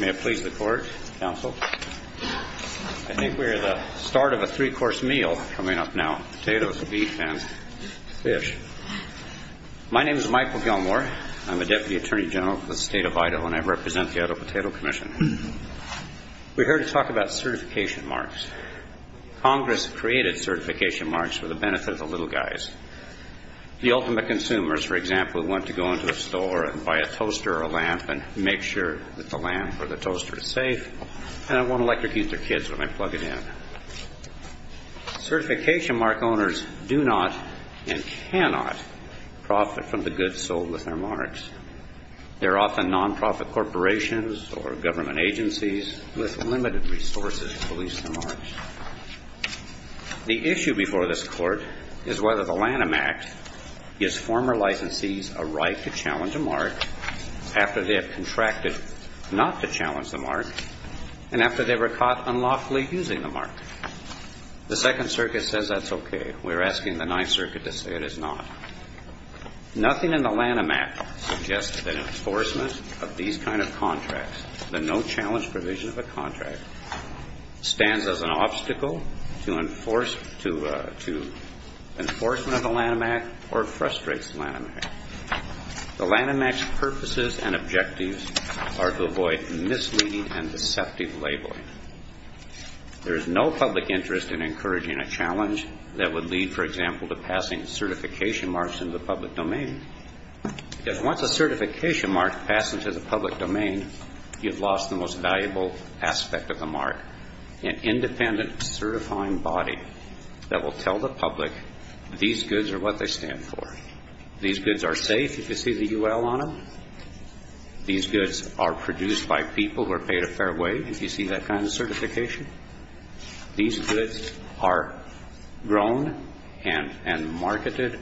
May it please the Court, Counsel. I think we are at the start of a three-course meal coming up now, potatoes, beef, and fish. My name is Michael Gilmore. I'm a Deputy Attorney General for the State of Idaho, and I represent the Idaho Potato Commission. We're here to talk about certification marks. Congress created certification marks for the benefit of the little guys, the ultimate consumers, for example, who want to go into a store and buy a toaster or a lamp and make sure that the lamp or the toaster is safe, and I won't electrocute their kids when I plug it in. Certification mark owners do not and cannot profit from the goods sold with their marks. They're often nonprofit corporations or government agencies with limited resources to release their marks. The issue before this Court is whether the Lanham Act gives former licensees a right to challenge a mark after they have contracted not to challenge the mark and after they were caught unlawfully using the mark. The Second Circuit says that's okay. We're asking the Ninth Circuit to say it is not. Nothing in the Lanham Act suggests that enforcement of these kind of contracts, the no-challenge provision of a contract, stands as an obstacle to enforcement of the Lanham Act or frustrates the Lanham Act. The Lanham Act's purposes and objectives are to avoid misleading and deceptive labeling. There is no public interest in encouraging a challenge that would lead, for example, to passing certification marks into the public domain, because once a certification mark passes into the public domain, you've lost the most valuable aspect of the mark, an independent certifying body that will tell the public these goods are what they stand for. These goods are safe if you see the UL on them. These goods are produced by people who are paid a fair wage if you see that kind of certification. These goods are grown and marketed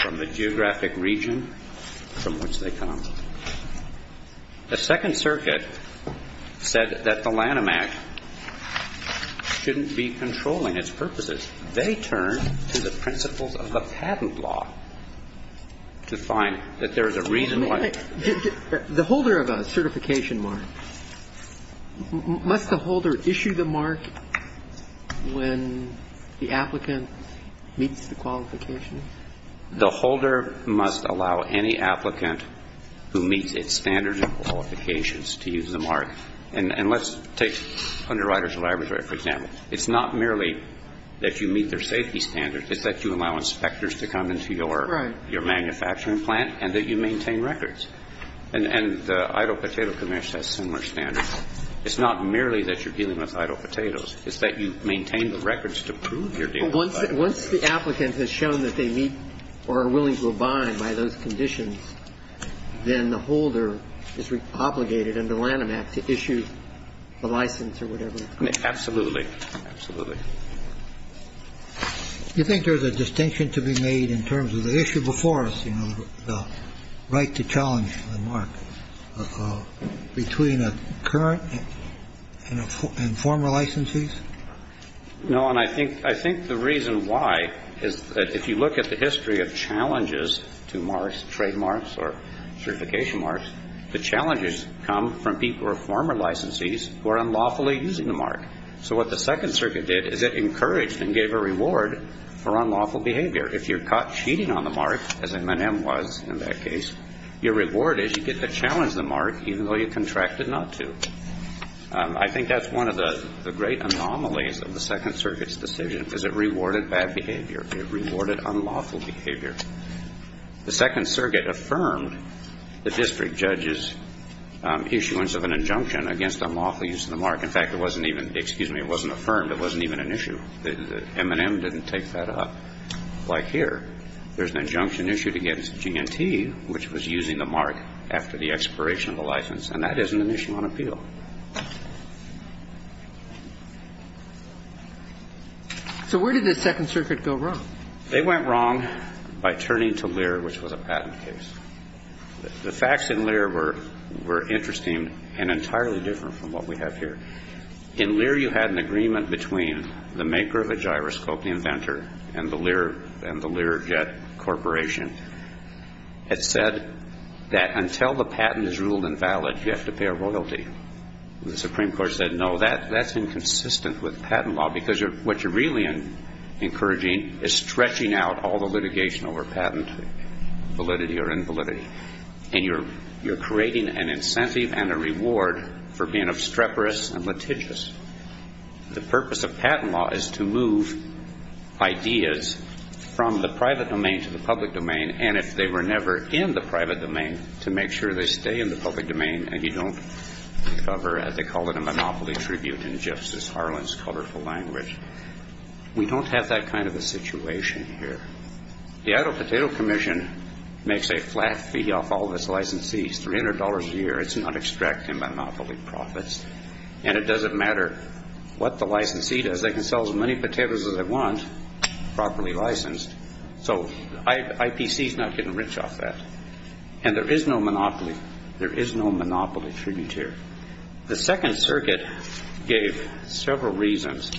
from the geographic region from which they come. The Second Circuit said that the Lanham Act shouldn't be controlling its purposes. They turn to the principles of the patent law to find that there is a reason why. The holder of a certification mark, must the holder issue the mark when the applicant meets the qualifications? The holder must allow any applicant who meets its standards and qualifications to use the mark. And let's take Underwriters of Libraries, for example. It's not merely that you meet their safety standards. It's that you allow inspectors to come into your manufacturing plant and that you maintain records. And the Idle Potato Commerce has similar standards. It's not merely that you're dealing with idle potatoes. It's that you maintain the records to prove you're dealing with idle potatoes. Once the applicant has shown that they meet or are willing to abide by those conditions, then the holder is obligated under Lanham Act to issue the license or whatever. Absolutely. Absolutely. Do you think there's a distinction to be made in terms of the issue before us, you know, the right to challenge the mark between a current and former licensees? No. And I think the reason why is that if you look at the history of challenges to marks, trademarks or certification marks, the challenges come from people who are former licensees who are unlawfully using the mark. So what the Second Circuit did is it encouraged and gave a reward for unlawful behavior. If you're caught cheating on the mark, as M&M was in that case, your reward is you get to challenge the mark even though you contracted not to. I think that's one of the great anomalies of the Second Circuit's decision, because it rewarded bad behavior. It rewarded unlawful behavior. The Second Circuit affirmed the district judge's issuance of an injunction against unlawful use of the mark. In fact, it wasn't even, excuse me, it wasn't affirmed. It wasn't even an issue. M&M didn't take that up. Like here, there's an injunction issued against G&T, which was using the mark after the expiration of the license. And that is an initial on appeal. So where did the Second Circuit go wrong? They went wrong by turning to Lear, which was a patent case. The facts in Lear were interesting and entirely different from what we have here. In Lear, you had an agreement between the maker of the gyroscope, the inventor, and the Lear Jet Corporation. It said that until the patent is ruled invalid, you have to pay a royalty. The Supreme Court said, no, that's inconsistent with patent law because what you're really encouraging is stretching out all the litigation over patent validity until you're in validity. And you're creating an incentive and a reward for being obstreperous and litigious. The purpose of patent law is to move ideas from the private domain to the public domain, and if they were never in the private domain, to make sure they stay in the public domain and you don't recover, as they call it, a monopoly tribute in Justice Harlan's colorful language. We don't have that kind of a situation here. The Idaho Potato Commission makes a flat fee off all of its licensees, $300 a year. It's not extracting monopoly profits. And it doesn't matter what the licensee does. They can sell as many potatoes as they want, properly licensed. So IPC is not getting rich off that. And there is no monopoly. There is no monopoly tribute here. The Second Circuit gave several reasons.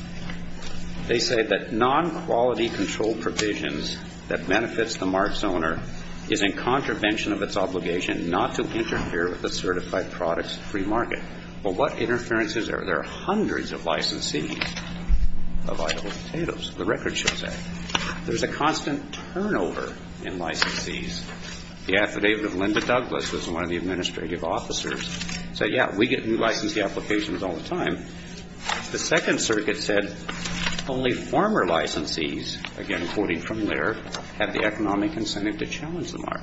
They say that non-quality control provisions that benefits the mark's owner is in contravention of its obligation not to interfere with the certified product's free market. Well, what interferences are there? There are hundreds of licensees of Idaho potatoes. The record shows that. There's a constant turnover in licensees. The affidavit of Linda Douglas, who's one of the administrative officers, said, yeah, we get new licensee applications all the time. The Second Circuit said only former licensees, again quoting from Laird, have the economic incentive to challenge the mark.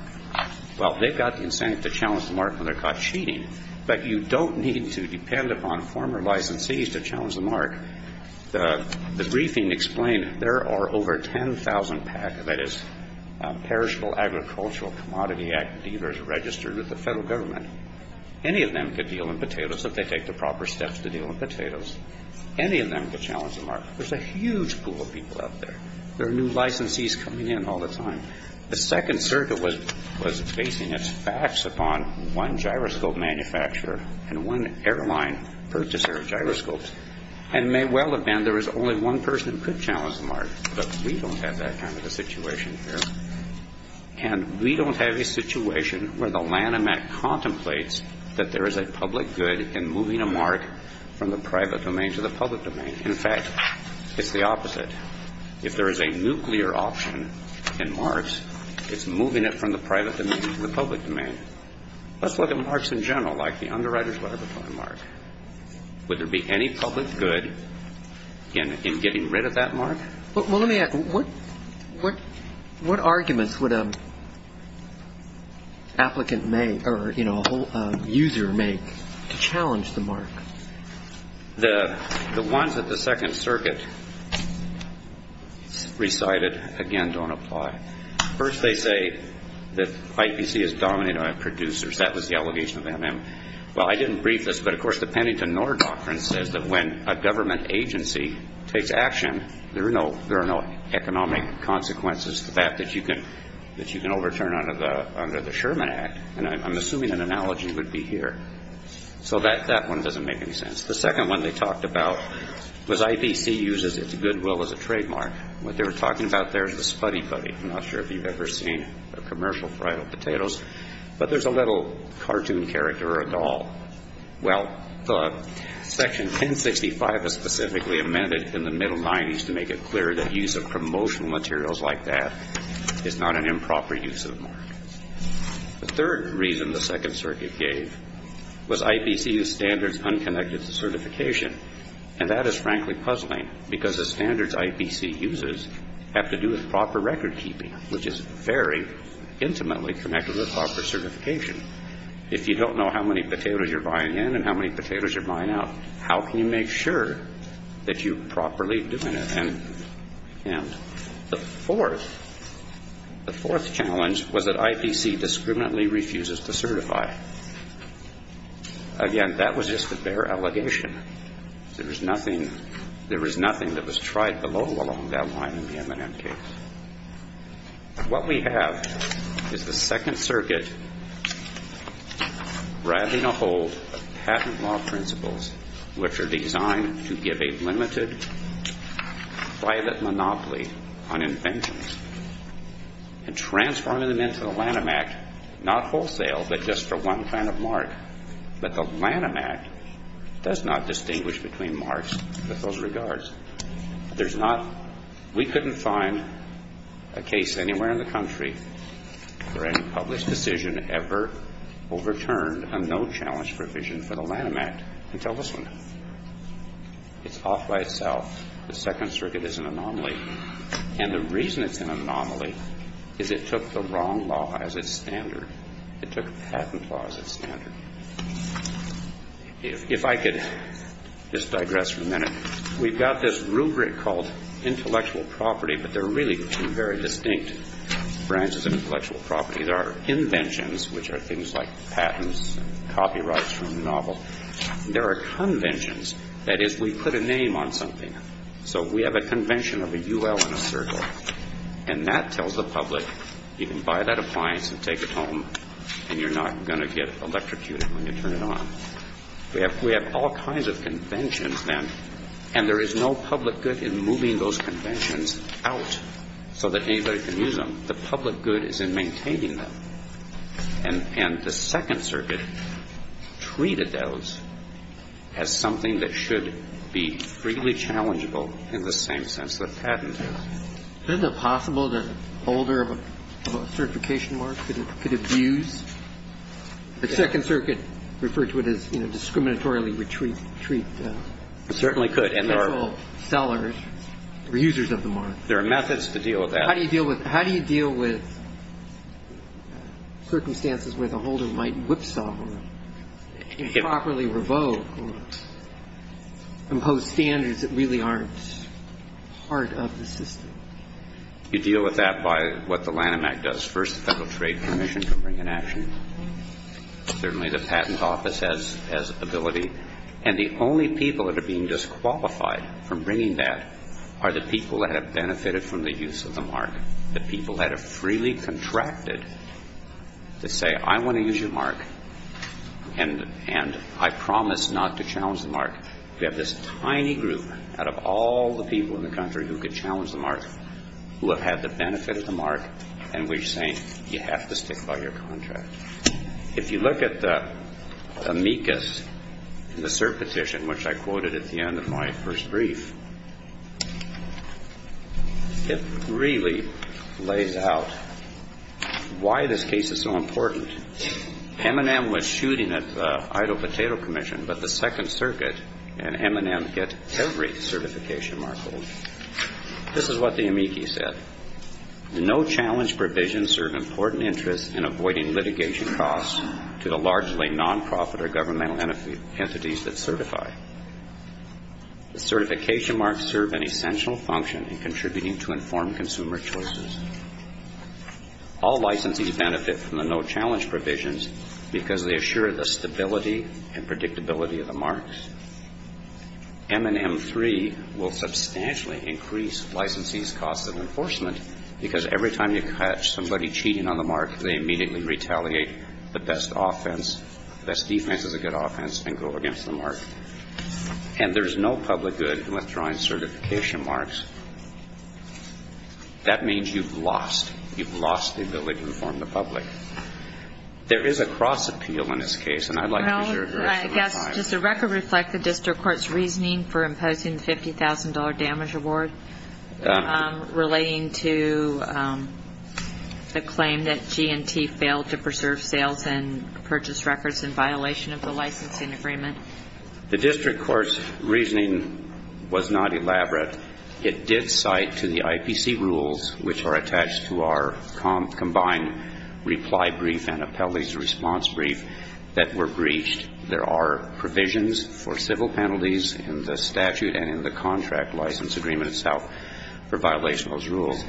Well, they've got the incentive to challenge the mark when they're caught cheating, but you don't need to depend upon former licensees to challenge the mark. The briefing explained there are over 10,000 PAC, that is, Perishable Agricultural Commodity Act dealers registered with the Federal Government. Any of them could deal in potatoes if they take the proper steps to deal in potatoes. Any of them could challenge the mark. There's a huge pool of people out there. There are new licensees coming in all the time. The Second Circuit was basing its facts upon one gyroscope manufacturer and one airline purchaser of gyroscopes, and may well have been there was only one person who could challenge the mark, but we don't have that kind of a situation here, and we don't have a situation where the Lanham Act contemplates that there is a public good in moving a mark from the private domain to the public domain. In fact, it's the opposite. If there is a nuclear option in marks, it's moving it from the private domain to the public domain. Let's look at marks in general, like the Underwriters' Letter of Appointment mark. Would there be any public good in getting rid of that mark? Well, let me ask, what arguments would an applicant make or, you know, a user make to challenge the mark? The ones that the Second Circuit recited, again, don't apply. First, they say that IPC is dominated by producers. That was the allegation of MM. Well, I didn't brief this, but, of course, the Pennington-Norr doctrine says that when a government agency takes action, there are no economic consequences to that that you can overturn under the Sherman Act, and I'm assuming an analogy would be here. So that one doesn't make any sense. The second one they talked about was IPC uses its goodwill as a trademark. What they were talking about there is the Spuddy Buddy. I'm not sure if you've ever seen commercial fried potatoes, but there's a little cartoon character or a doll. Well, Section 1065 is specifically amended in the middle 90s to make it clear that use of promotional materials like that is not an improper use of the mark. The third reason the Second Circuit gave was IPC used standards unconnected to certification, and that is frankly puzzling because the standards IPC uses have to do with proper recordkeeping, which is very intimately connected with proper certification. If you don't know how many potatoes you're buying in and how many potatoes you're buying out, how can you make sure that you're properly doing it? And the fourth challenge was that IPC discriminately refuses to certify. Again, that was just a bare allegation. There was nothing that was tried below along that line in the M&M case. What we have is the Second Circuit grabbing a hold of patent law principles, which are designed to give a limited private monopoly on inventions and transforming them into the Lanham Act, not wholesale but just for one kind of mark. But the Lanham Act does not distinguish between marks with those regards. We couldn't find a case anywhere in the country where any published decision ever overturned a no-challenge provision for the Lanham Act until this one. It's off by itself. The Second Circuit is an anomaly. And the reason it's an anomaly is it took the wrong law as its standard. It took patent law as its standard. If I could just digress for a minute. We've got this rubric called intellectual property, but there are really two very distinct branches of intellectual property. There are inventions, which are things like patents and copyrights from the novel. There are conventions. That is, we put a name on something. So we have a convention of a UL and a circle, and that tells the public you can buy that appliance and take it home and you're not going to get electrocuted when you turn it on. We have all kinds of conventions then, and there is no public good in moving those conventions out so that anybody can use them. The public good is in maintaining them. And the Second Circuit treated those as something that should be freely challengeable in the same sense that patent is. Isn't it possible that a holder of a certification mark could abuse? The Second Circuit referred to it as, you know, discriminatorily retreat. It certainly could. And there are special sellers or users of the mark. There are methods to deal with that. How do you deal with circumstances where the holder might whipsaw or improperly revoke or impose standards that really aren't part of the system? You deal with that by what the Lanham Act does. First, the Federal Trade Commission can bring an action. Certainly the Patent Office has ability. And the only people that are being disqualified from bringing that are the people that have benefited from the use of the mark, the people that have freely contracted to say, I want to use your mark, and I promise not to challenge the mark. We have this tiny group out of all the people in the country who could challenge the mark, who have had the benefit of the mark, and we're saying you have to stick by your contract. If you look at the amicus, the cert petition, which I quoted at the end of my first brief, it really lays out why this case is so important. M&M was shooting at the Idaho Potato Commission, but the Second Circuit and M&M get every certification mark holder. This is what the amicus said. No challenge provisions serve important interests in avoiding litigation costs to the largely nonprofit or governmental entities that certify. The certification marks serve an essential function in contributing to informed consumer choices. All licensees benefit from the no challenge provisions because they assure the stability and predictability of the marks. M&M 3 will substantially increase licensees' costs of enforcement because every time you catch somebody cheating on the mark, they immediately retaliate the best offense, best defense is a good offense, and go against the mark. And there's no public good in withdrawing certification marks. That means you've lost. You've lost the ability to inform the public. There is a cross-appeal in this case, and I'd like to use your address. Does the record reflect the district court's reasoning for imposing the $50,000 damage award relating to the claim that G&T failed to preserve sales and purchase records in violation of the licensing agreement? The district court's reasoning was not elaborate. It did cite to the IPC rules, which are attached to our combined reply brief and appellate's response brief, that were breached. There are provisions for civil penalties in the statute and in the contract license agreement itself for violation of those rules.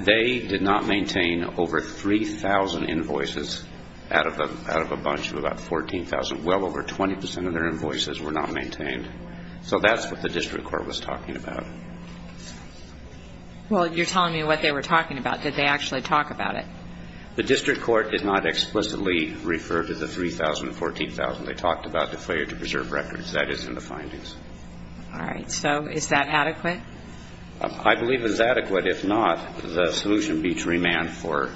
They did not maintain over 3,000 invoices out of a bunch of about 14,000. Well over 20% of their invoices were not maintained. So that's what the district court was talking about. Well, you're telling me what they were talking about. Did they actually talk about it? The district court did not explicitly refer to the 3,000 and 14,000. They talked about the failure to preserve records. That is in the findings. All right. So is that adequate? I believe it is adequate. If not, the solution would be to remand for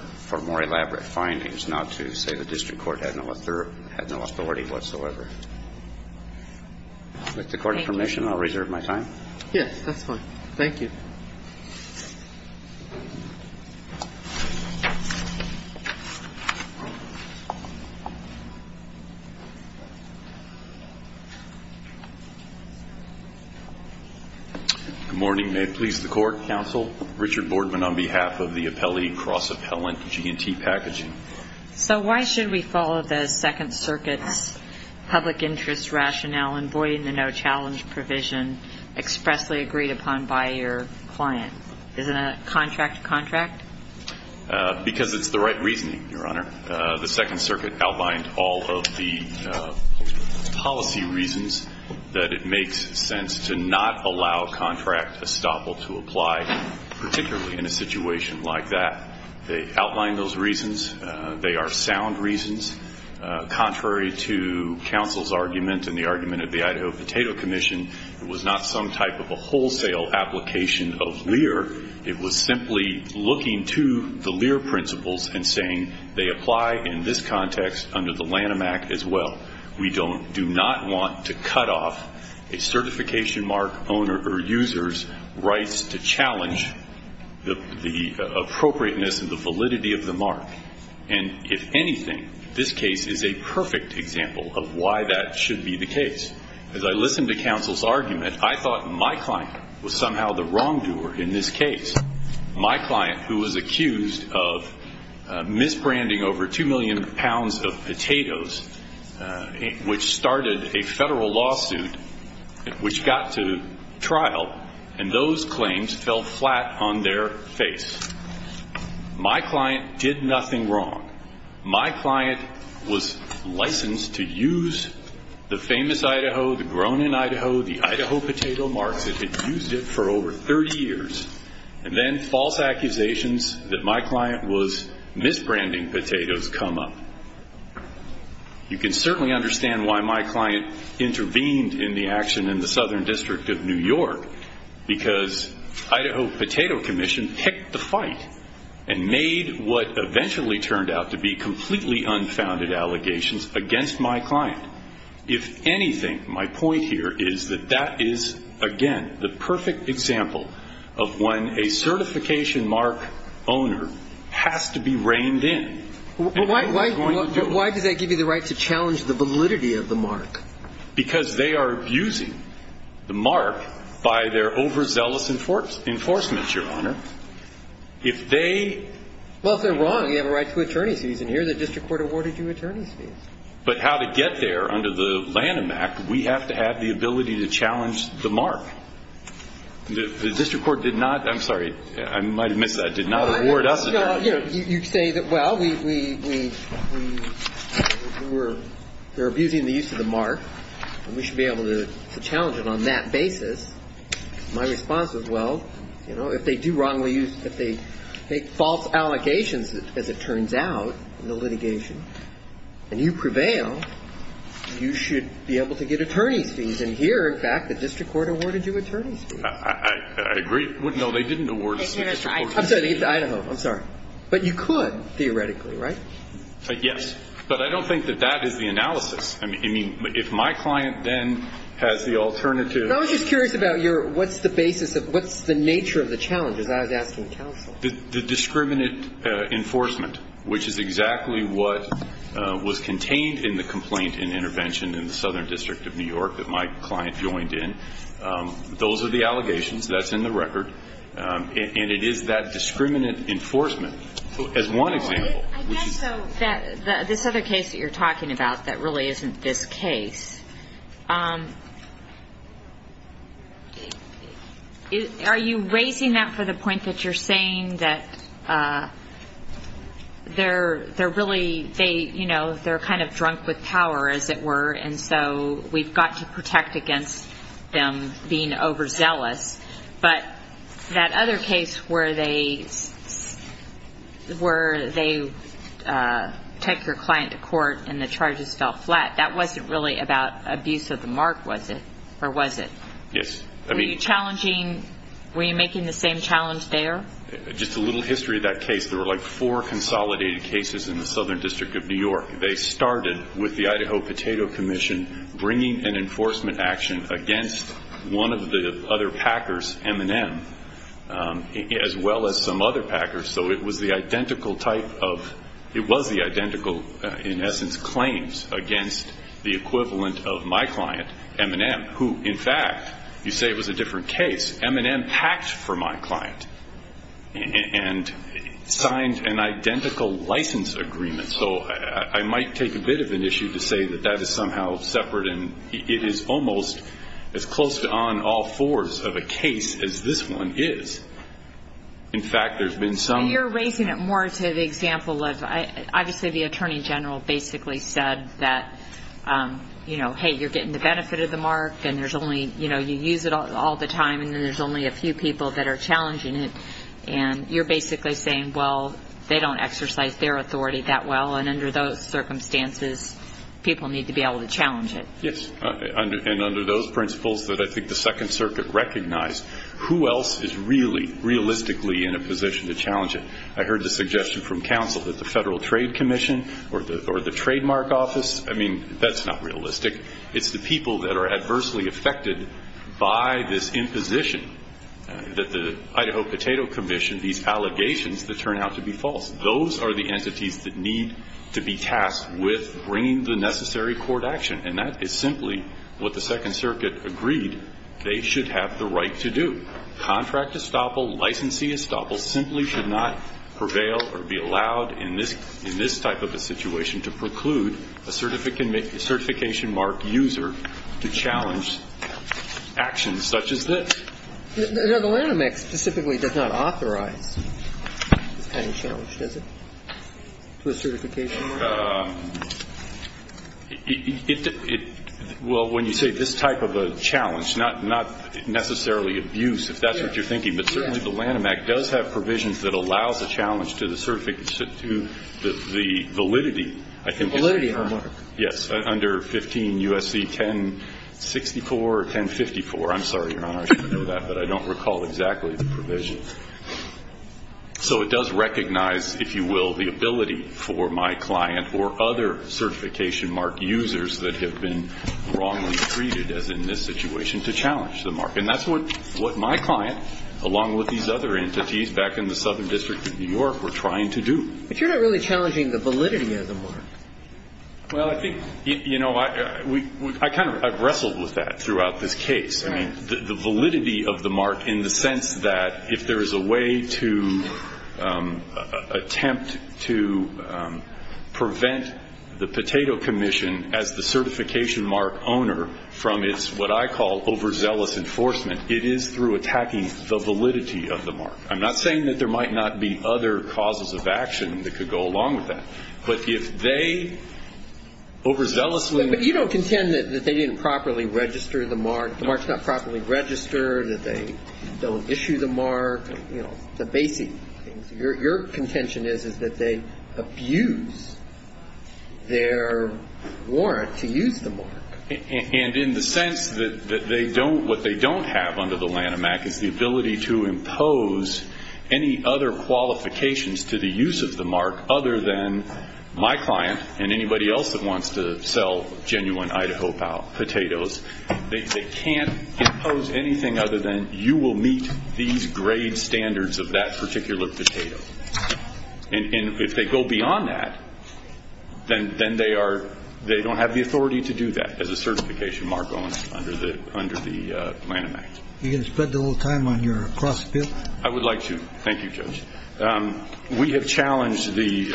more elaborate findings, not to say the district court had no authority whatsoever. With the court's permission, I'll reserve my time. Yes, that's fine. Thank you. Good morning. May it please the court, counsel. Richard Boardman on behalf of the appellee cross-appellant G&T Packaging. So why should we follow the Second Circuit's public interest rationale in voiding the no-challenge provision expressly agreed upon by your client? Isn't a contract a contract? Because it's the right reasoning, Your Honor. The Second Circuit outlined all of the policy reasons that it makes sense to not allow contract estoppel to apply, particularly in a situation like that. They outlined those reasons. They are sound reasons. Contrary to counsel's argument and the argument of the Idaho Potato Commission, it was not some type of a wholesale application of LEER. It was simply looking to the LEER principles and saying they apply in this context under the Lanham Act as well. We do not want to cut off a certification mark owner or user's rights to challenge the appropriateness and the validity of the mark. And if anything, this case is a perfect example of why that should be the case. As I listened to counsel's argument, I thought my client was somehow the wrongdoer in this case. My client, who was accused of misbranding over 2 million pounds of potatoes which started a federal lawsuit which got to trial, and those claims fell flat on their face. My client did nothing wrong. My client was licensed to use the famous Idaho, the grown-in Idaho, the Idaho potato mark that had used it for over 30 years, and then false accusations that my client was misbranding potatoes come up. You can certainly understand why my client intervened in the action in the Southern District of New York, because Idaho Potato Commission picked the fight and made what eventually turned out to be completely unfounded allegations against my client. The perfect example of when a certification mark owner has to be reined in. And who is going to do it? But why does that give you the right to challenge the validity of the mark? Because they are abusing the mark by their overzealous enforcement, Your Honor. If they... Well, if they're wrong, they have a right to attorney's fees. And here the district court awarded you attorney's fees. But how to get there under the Lanham Act, we have to have the ability to challenge the mark. The district court did not. I'm sorry. I might have missed that. Did not award us an attorney's fee. You say that, well, we're abusing the use of the mark. We should be able to challenge it on that basis. My response is, well, you know, if they do wrongly use, if they make false allegations, as it turns out in the litigation, and you prevail, you should be able to get attorney's fees. And here, in fact, the district court awarded you attorney's fees. I agree. No, they didn't award us the district court's fees. I'm sorry. Idaho. I'm sorry. But you could, theoretically, right? Yes. But I don't think that that is the analysis. I mean, if my client then has the alternative... I was just curious about your what's the basis of, what's the nature of the challenge, as I was asking counsel. The discriminant enforcement, which is exactly what was contained in the complaint and intervention in the Southern District of New York that my client joined in. Those are the allegations. That's in the record. And it is that discriminant enforcement, as one example. I guess, though, that this other case that you're talking about that really isn't this case, are you raising that for the point that you're saying that they're really, you know, they're kind of drunk with power, as it were, and so we've got to protect against them being overzealous. But that other case where they take your client to court and the charges fell flat, that wasn't really about abuse of the mark, was it? Or was it? Yes. Were you challenging, were you making the same challenge there? Just a little history of that case. There were like four consolidated cases in the Southern District of New York. They started with the Idaho Potato Commission bringing an enforcement action against one of the other packers, M&M, as well as some other packers. So it was the identical type of, it was the identical, in essence, claims against the equivalent of my client, M&M, who, in fact, you say it was a different case. M&M packed for my client and signed an identical license agreement. So I might take a bit of an issue to say that that is somehow separate, and it is almost as close to on all fours of a case as this one is. In fact, there's been some. You're raising it more to the example of, obviously, the Attorney General basically said that, you know, hey, you're getting the benefit of the mark and there's only, you know, you use it all the time and there's only a few people that are challenging it. And you're basically saying, well, they don't exercise their authority that well, and under those circumstances people need to be able to challenge it. Yes. And under those principles that I think the Second Circuit recognized, who else is really realistically in a position to challenge it? I heard the suggestion from counsel that the Federal Trade Commission or the Trademark Office. I mean, that's not realistic. It's the people that are adversely affected by this imposition that the Idaho Potato Commission, these allegations that turn out to be false. Those are the entities that need to be tasked with bringing the necessary court action, and that is simply what the Second Circuit agreed they should have the right to do. Contract estoppel, licensee estoppel simply should not prevail or be allowed in this type of a situation to preclude a certification mark user to challenge actions such as this. The Lanham Act specifically does not authorize any challenge, does it, to a certification mark? Well, when you say this type of a challenge, not necessarily abuse, if that's what you're thinking, but certainly the Lanham Act does have provisions that allows a challenge to the validity, I think. Validity of a mark. Yes. Under 15 U.S.C. 1064 or 1054. I'm sorry, Your Honor, I should have known that, but I don't recall exactly the provision. So it does recognize, if you will, the ability for my client or other certification mark users that have been wrongly treated, as in this situation, to challenge the mark. And that's what my client, along with these other entities back in the Southern District of New York, were trying to do. But you're not really challenging the validity of the mark. Well, I think, you know, I kind of wrestled with that throughout this case. Right. I'm not challenging the validity of the mark in the sense that if there is a way to attempt to prevent the Potato Commission as the certification mark owner from its, what I call, overzealous enforcement, it is through attacking the validity of the mark. I'm not saying that there might not be other causes of action that could go along with that. But if they overzealously. But you don't contend that they didn't properly register the mark, the mark's not properly registered, that they don't issue the mark, you know, the basic things. Your contention is that they abuse their warrant to use the mark. And in the sense that they don't, what they don't have under the Lanham Act is the ability to impose any other qualifications to the use of the mark other than my client and anybody else that wants to sell genuine Idaho potatoes. They can't impose anything other than you will meet these grade standards of that particular potato. And if they go beyond that, then they are, they don't have the authority to do that as a certification mark owner under the Lanham Act. Are you going to spend a little time on your cross appeal? I would like to. Thank you, Judge. We have challenged the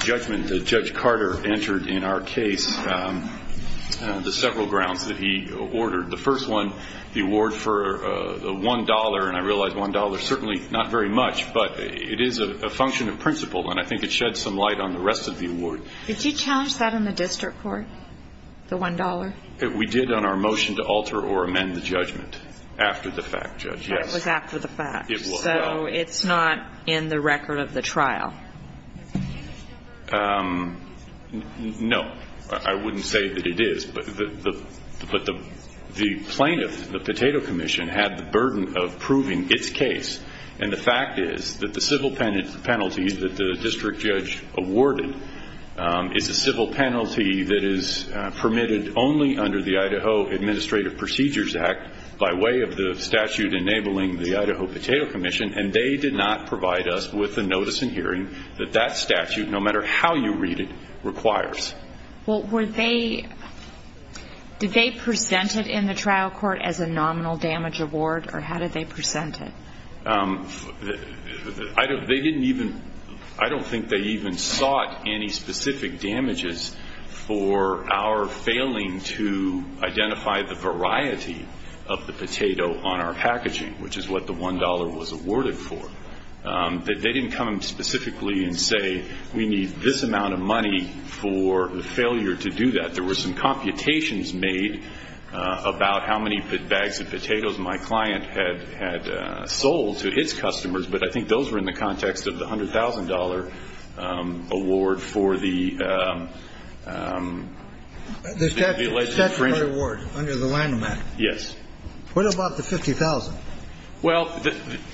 judgment that Judge Carter entered in our case, the several grounds that he ordered. The first one, the award for the $1, and I realize $1 certainly not very much, but it is a function of principle, and I think it sheds some light on the rest of the award. Did you challenge that in the district court, the $1? We did on our motion to alter or amend the judgment after the fact, Judge, yes. It was after the fact, so it's not in the record of the trial. No. I wouldn't say that it is, but the plaintiff, the Potato Commission, had the burden of proving its case, and the fact is that the civil penalty that the district judge awarded is a civil penalty that is permitted only under the Idaho Administrative Procedures Act by way of the statute enabling the Idaho Potato Commission, and they did not provide us with the notice and hearing that that statute, no matter how you read it, requires. Well, were they, did they present it in the trial court as a nominal damage award, or how did they present it? I don't think they even sought any specific damages for our failing to identify the variety of the potato on our packaging, which is what the $1 was awarded for. They didn't come specifically and say we need this amount of money for the failure to do that. There were some computations made about how many bags of potatoes my client had sold to his customers, but I think those were in the context of the $100,000 award for the alleged infringement. The statutory award under the landmark. Yes. What about the $50,000? Well,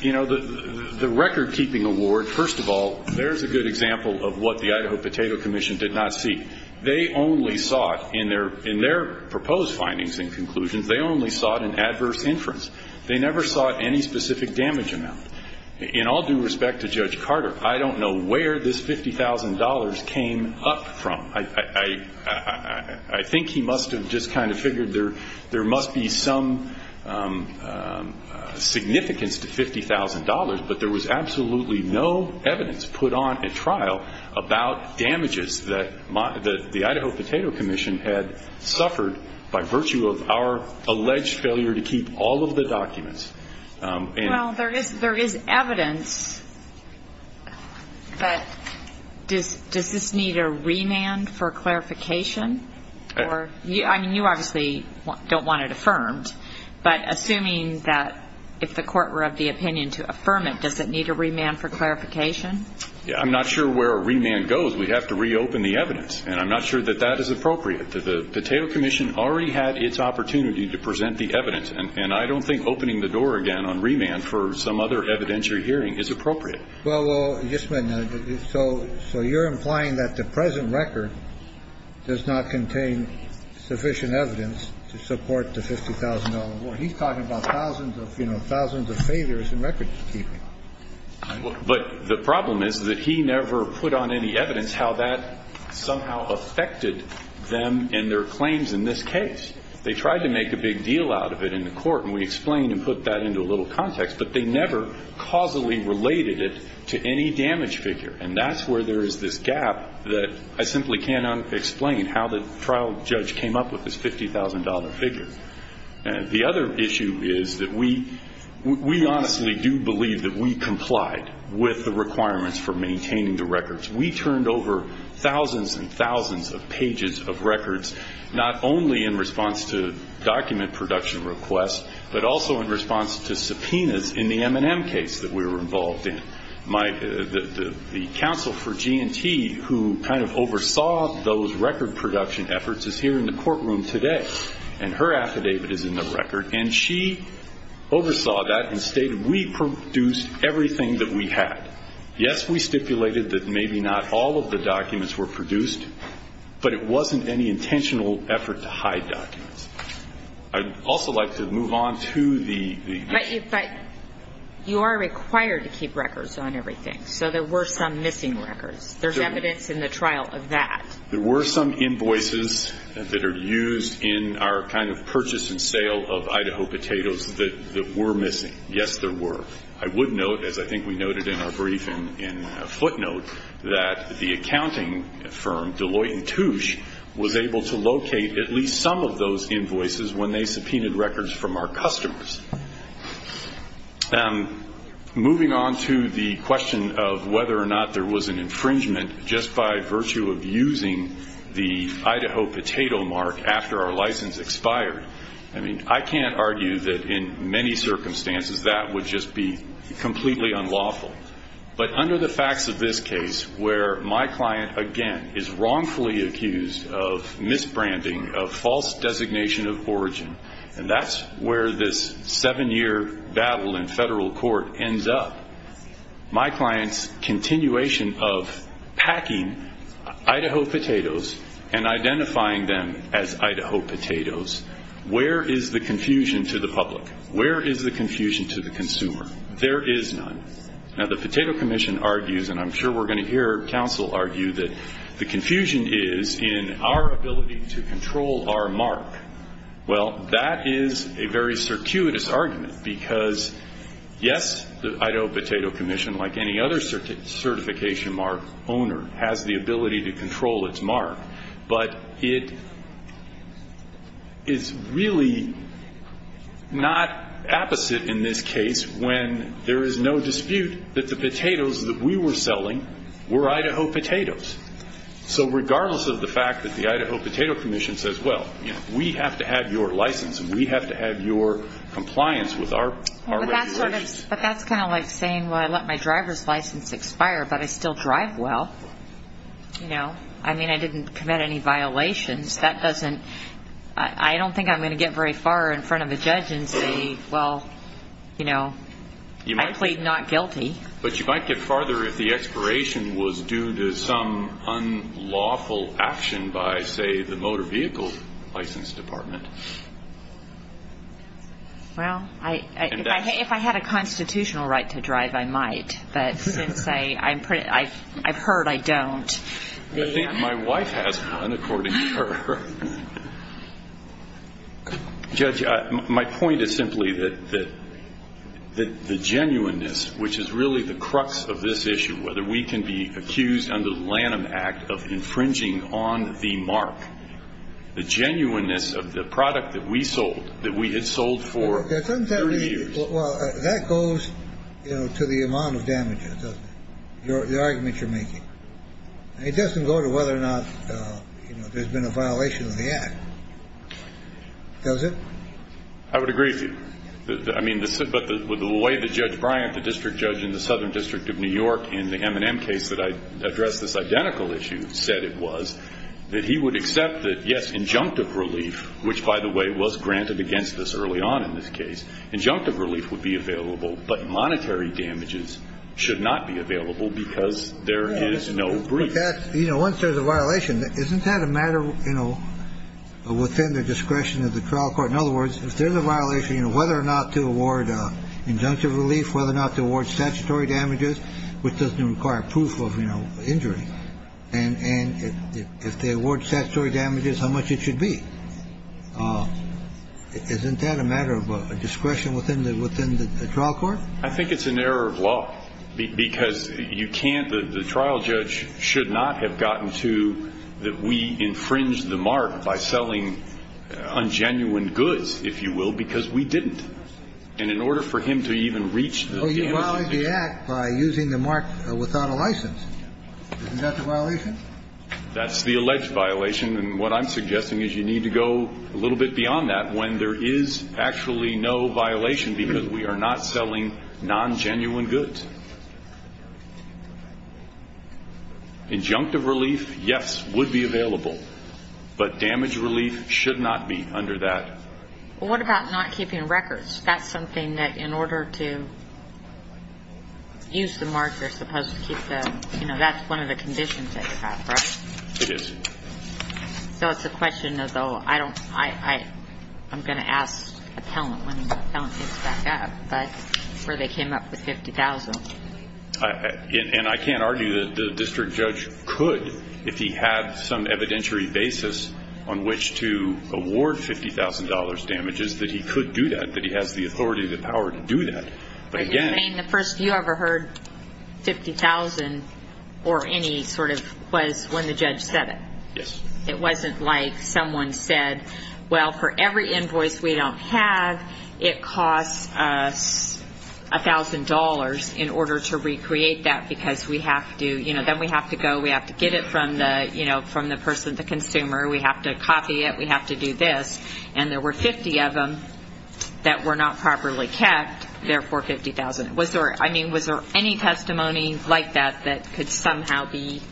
you know, the record-keeping award, first of all, there's a good example of what the Idaho Potato Commission did not seek. They only sought, in their proposed findings and conclusions, they only sought an adverse inference. They never sought any specific damage amount. In all due respect to Judge Carter, I don't know where this $50,000 came up from. I think he must have just kind of figured there must be some significance to $50,000, but there was absolutely no evidence put on at trial about damages that the Idaho Potato Commission had suffered by virtue of our alleged failure to keep all of the documents. Well, there is evidence, but does this need a remand for clarification? I mean, you obviously don't want it affirmed, but assuming that if the court were of the opinion to affirm it, does it need a remand for clarification? I'm not sure where a remand goes. We'd have to reopen the evidence, and I'm not sure that that is appropriate. The Potato Commission already had its opportunity to present the evidence, and I don't think opening the door again on remand for some other evidentiary hearing is appropriate. Well, just a minute. So you're implying that the present record does not contain sufficient evidence to support the $50,000 award. He's talking about thousands of, you know, thousands of failures in record-keeping. But the problem is that he never put on any evidence how that somehow affected them in their claims in this case. They tried to make a big deal out of it in the court, and we explained and put that into a little context, but they never causally related it to any damage figure, and that's where there is this gap that I simply cannot explain how the trial judge came up with this $50,000 figure. The other issue is that we honestly do believe that we complied with the requirements for maintaining the records. We turned over thousands and thousands of pages of records, not only in response to document production requests, but also in response to subpoenas in the M&M case that we were involved in. The counsel for G&T who kind of oversaw those record production efforts is here in the courtroom today, and her affidavit is in the record, and she oversaw that and stated we produced everything that we had. Yes, we stipulated that maybe not all of the documents were produced, but it wasn't any intentional effort to hide documents. I'd also like to move on to the issue. But you are required to keep records on everything, so there were some missing records. There's evidence in the trial of that. There were some invoices that are used in our kind of purchase and sale of Idaho potatoes that were missing. Yes, there were. I would note, as I think we noted in our brief in a footnote, that the accounting firm, Deloitte & Touche, was able to locate at least some of those invoices when they subpoenaed records from our customers. Moving on to the question of whether or not there was an infringement just by virtue of using the Idaho potato mark after our license expired, I mean, I can't argue that in many circumstances that would just be completely unlawful. But under the facts of this case, where my client, again, is wrongfully accused of misbranding, of false designation of origin, and that's where this seven-year battle in federal court ends up, my client's continuation of packing Idaho potatoes and identifying them as Idaho potatoes, where is the confusion to the public? Where is the confusion to the consumer? There is none. Now, the Potato Commission argues, and I'm sure we're going to hear counsel argue, that the confusion is in our ability to control our mark. Well, that is a very circuitous argument because, yes, the Idaho Potato Commission, like any other certification mark owner, has the ability to control its mark. But it is really not apposite in this case when there is no dispute that the potatoes that we were selling were Idaho potatoes. So regardless of the fact that the Idaho Potato Commission says, well, we have to have your license and we have to have your compliance with our regulations. But that's kind of like saying, well, I let my driver's license expire, but I still drive well. I mean, I didn't commit any violations. I don't think I'm going to get very far in front of a judge and say, well, I plead not guilty. But you might get farther if the expiration was due to some unlawful action by, say, the Motor Vehicle License Department. Well, if I had a constitutional right to drive, I might. But since I've heard I don't. I think my wife has one, according to her. Judge, my point is simply that the genuineness, which is really the crux of this issue, whether we can be accused under the Lanham Act of infringing on the mark, the genuineness of the product that we sold, that we had sold for 30 years. Well, that goes to the amount of damage, the argument you're making. It doesn't go to whether or not there's been a violation of the act, does it? I would agree with you. I mean, but the way that Judge Bryant, the district judge in the Southern District of New York, in the M&M case that I addressed this identical issue, said it was that he would accept that, yes, injunctive relief, which, by the way, was granted against this early on in this case, injunctive relief would be available, but monetary damages should not be available because there is no brief. Once there's a violation, isn't that a matter within the discretion of the trial court? In other words, if there's a violation, whether or not to award injunctive relief, whether or not to award statutory damages, which doesn't require proof of injury, and if they award statutory damages, how much it should be, isn't that a matter of discretion within the trial court? I think it's an error of law because you can't, the trial judge should not have gotten to that we infringed the mark by selling ungenuine goods, if you will, because we didn't. And in order for him to even reach the damages. Oh, you violated the act by using the mark without a license. Isn't that the violation? That's the alleged violation. And what I'm suggesting is you need to go a little bit beyond that when there is actually no violation because we are not selling non-genuine goods. Injunctive relief, yes, would be available. But damage relief should not be under that. Well, what about not keeping records? That's something that in order to use the mark, you're supposed to keep the, you know, that's one of the conditions that you have, right? It is. So it's a question, though, I don't, I'm going to ask an appellant, when the appellant gets back up, where they came up with $50,000. And I can't argue that the district judge could, if he had some evidentiary basis on which to award $50,000 damages, that he could do that, that he has the authority, the power to do that. But you're saying the first you ever heard $50,000 or any sort of, was when the judge said it? Yes. It wasn't like someone said, well, for every invoice we don't have, it costs us $1,000 in order to recreate that because we have to, you know, then we have to go, we have to get it from the, you know, from the person, the consumer, we have to copy it, we have to do this. And there were 50 of them that were not properly kept, therefore $50,000. Was there, I mean, was there any testimony like that that could somehow be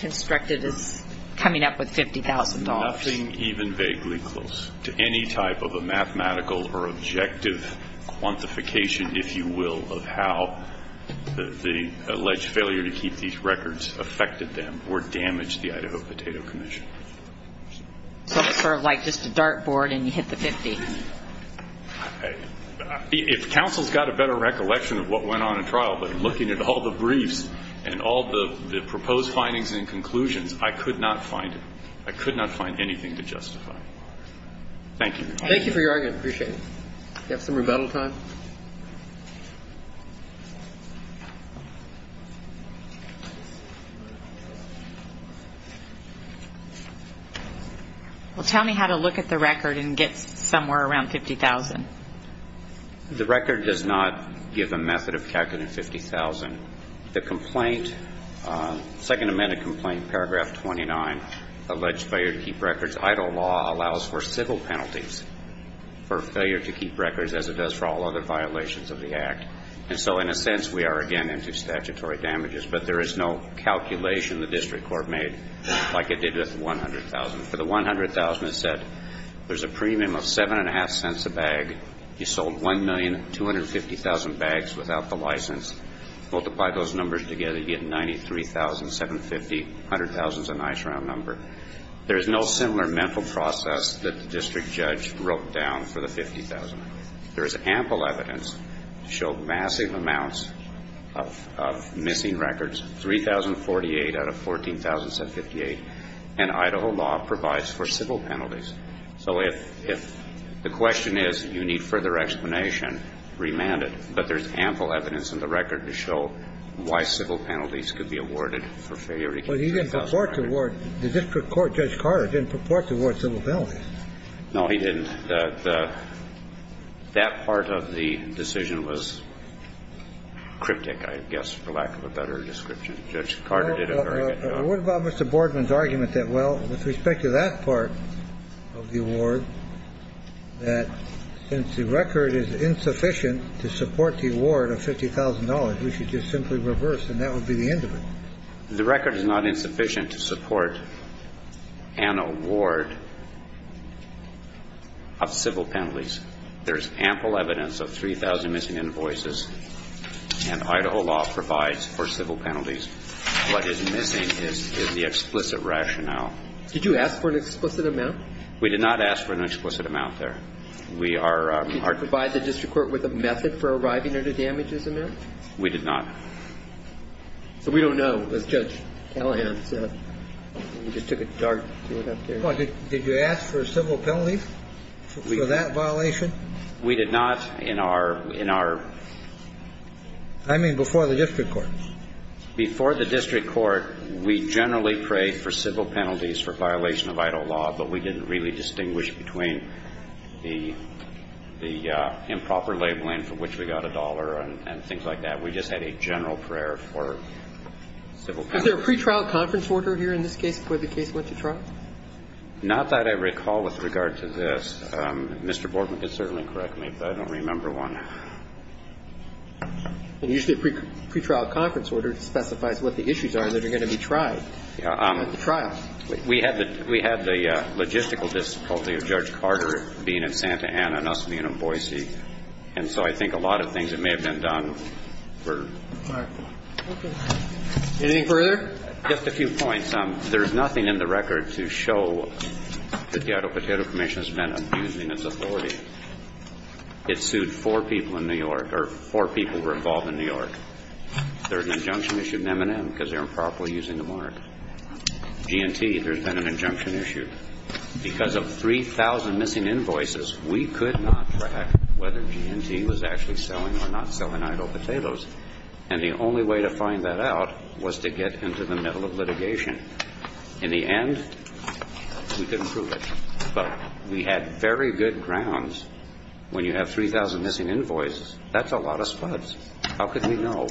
constructed as coming up with $50,000? Nothing even vaguely close to any type of a mathematical or objective quantification, if you will, of how the alleged failure to keep these records affected them or damaged the Idaho Potato Commission. So it's sort of like just a dart board and you hit the 50. If counsel's got a better recollection of what went on in trial, but looking at all the briefs and all the proposed findings and conclusions, I could not find it. I could not find anything to justify. Thank you. Thank you for your argument. Appreciate it. Do you have some rebuttal time? Well, tell me how to look at the record and get somewhere around $50,000. The record does not give a method of calculating $50,000. The complaint, second amendment complaint, paragraph 29, alleged failure to keep records, Idaho law allows for civil penalties for failure to keep records as it does for all other violations of the act. And so in a sense we are again into statutory damages, but there is no calculation the district court made like it did with the $100,000. For the $100,000, it said there's a premium of 7.5 cents a bag. You sold 1,250,000 bags without the license. Multiply those numbers together, you get 93,750. $100,000 is a nice round number. There is no similar mental process that the district judge wrote down for the $50,000. There is ample evidence to show massive amounts of missing records. 3,048 out of 14,758. And Idaho law provides for civil penalties. So if the question is you need further explanation, remand it. But there's ample evidence in the record to show why civil penalties could be awarded for failure to keep records. But he didn't purport to award the district court, Judge Carter, didn't purport to award civil penalties. No, he didn't. That part of the decision was cryptic, I guess, for lack of a better description. Judge Carter did a very good job. Well, what about Mr. Boardman's argument that, well, with respect to that part of the award, that since the record is insufficient to support the award of $50,000, we should just simply reverse and that would be the end of it? The record is not insufficient to support an award of civil penalties. There is ample evidence of 3,000 missing invoices. And Idaho law provides for civil penalties. What is missing is the explicit rationale. Did you ask for an explicit amount? We did not ask for an explicit amount there. Did you provide the district court with a method for arriving at a damages amount? We did not. So we don't know, does Judge Callahan. He just took a dart and threw it up there. Did you ask for civil penalties for that violation? We did not in our ñ in our ñ I mean before the district court. Before the district court, we generally prayed for civil penalties for violation of Idaho law, but we didn't really distinguish between the improper labeling for which we got a dollar and things like that. We just had a general prayer for civil penalties. Was there a pretrial conference order here in this case before the case went to trial? Not that I recall with regard to this. Mr. Bortman could certainly correct me, but I don't remember one. Usually a pretrial conference order specifies what the issues are that are going to be tried at the trial. We had the ñ we had the logistical difficulty of Judge Carter being in Santa Ana and us being in Boise. And so I think a lot of things that may have been done were ñ Anything further? Just a few points. There's nothing in the record to show that the Idaho Potato Commission has been abusing its authority. It sued four people in New York, or four people were involved in New York. There's an injunction issue in M&M because they're improperly using the mark. G&T, there's been an injunction issue. Because of 3,000 missing invoices, we could not track whether G&T was actually selling or not selling Idaho potatoes. And the only way to find that out was to get into the middle of litigation. In the end, we couldn't prove it. But we had very good grounds. When you have 3,000 missing invoices, that's a lot of spuds. How could we know?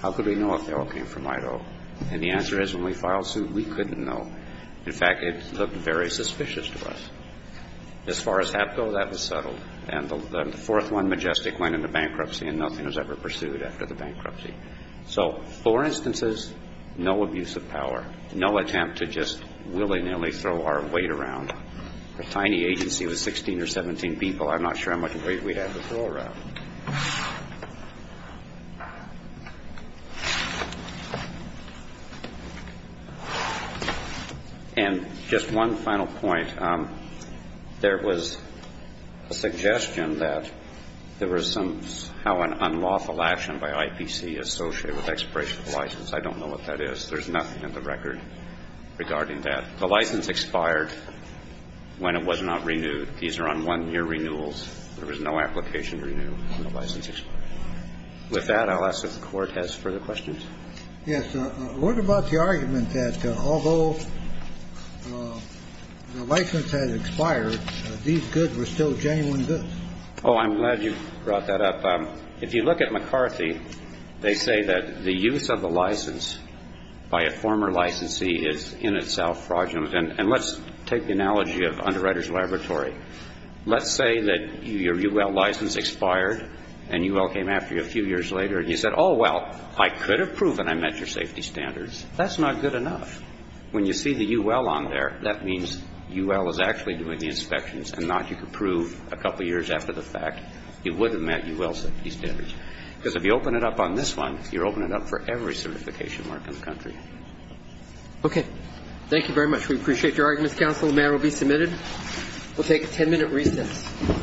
How could we know if they all came from Idaho? And the answer is, when we filed suit, we couldn't know. In fact, it looked very suspicious to us. As far as HAPCO, that was settled. And the fourth one, Majestic, went into bankruptcy, and nothing was ever pursued after the bankruptcy. So four instances, no abuse of power, no attempt to just willy-nilly throw our weight around. A tiny agency with 16 or 17 people, I'm not sure how much weight we'd have to throw around. And just one final point. There was a suggestion that there was some unlawful action by IPC associated with expiration of the license. I don't know what that is. There's nothing in the record regarding that. The license expired when it was not renewed. These are on one-year renewals. There was no application to renew when the license expired. With that, I'll ask if the Court has further questions. Yes. What about the argument that although the license had expired, these goods were still genuine goods? Oh, I'm glad you brought that up. If you look at McCarthy, they say that the use of the license by a former licensee is in itself fraudulent. And let's take the analogy of Underwriters Laboratory. Let's say that your UL license expired and UL came after you a few years later and you said, oh, well, I could have proven I met your safety standards. That's not good enough. When you see the UL on there, that means UL is actually doing the inspections and not you could prove a couple years after the fact you would have met UL safety standards. Because if you open it up on this one, you're opening it up for every certification mark in the country. Okay. Thank you very much. We appreciate your argument, Counsel. The matter will be submitted. We'll take a ten-minute recess.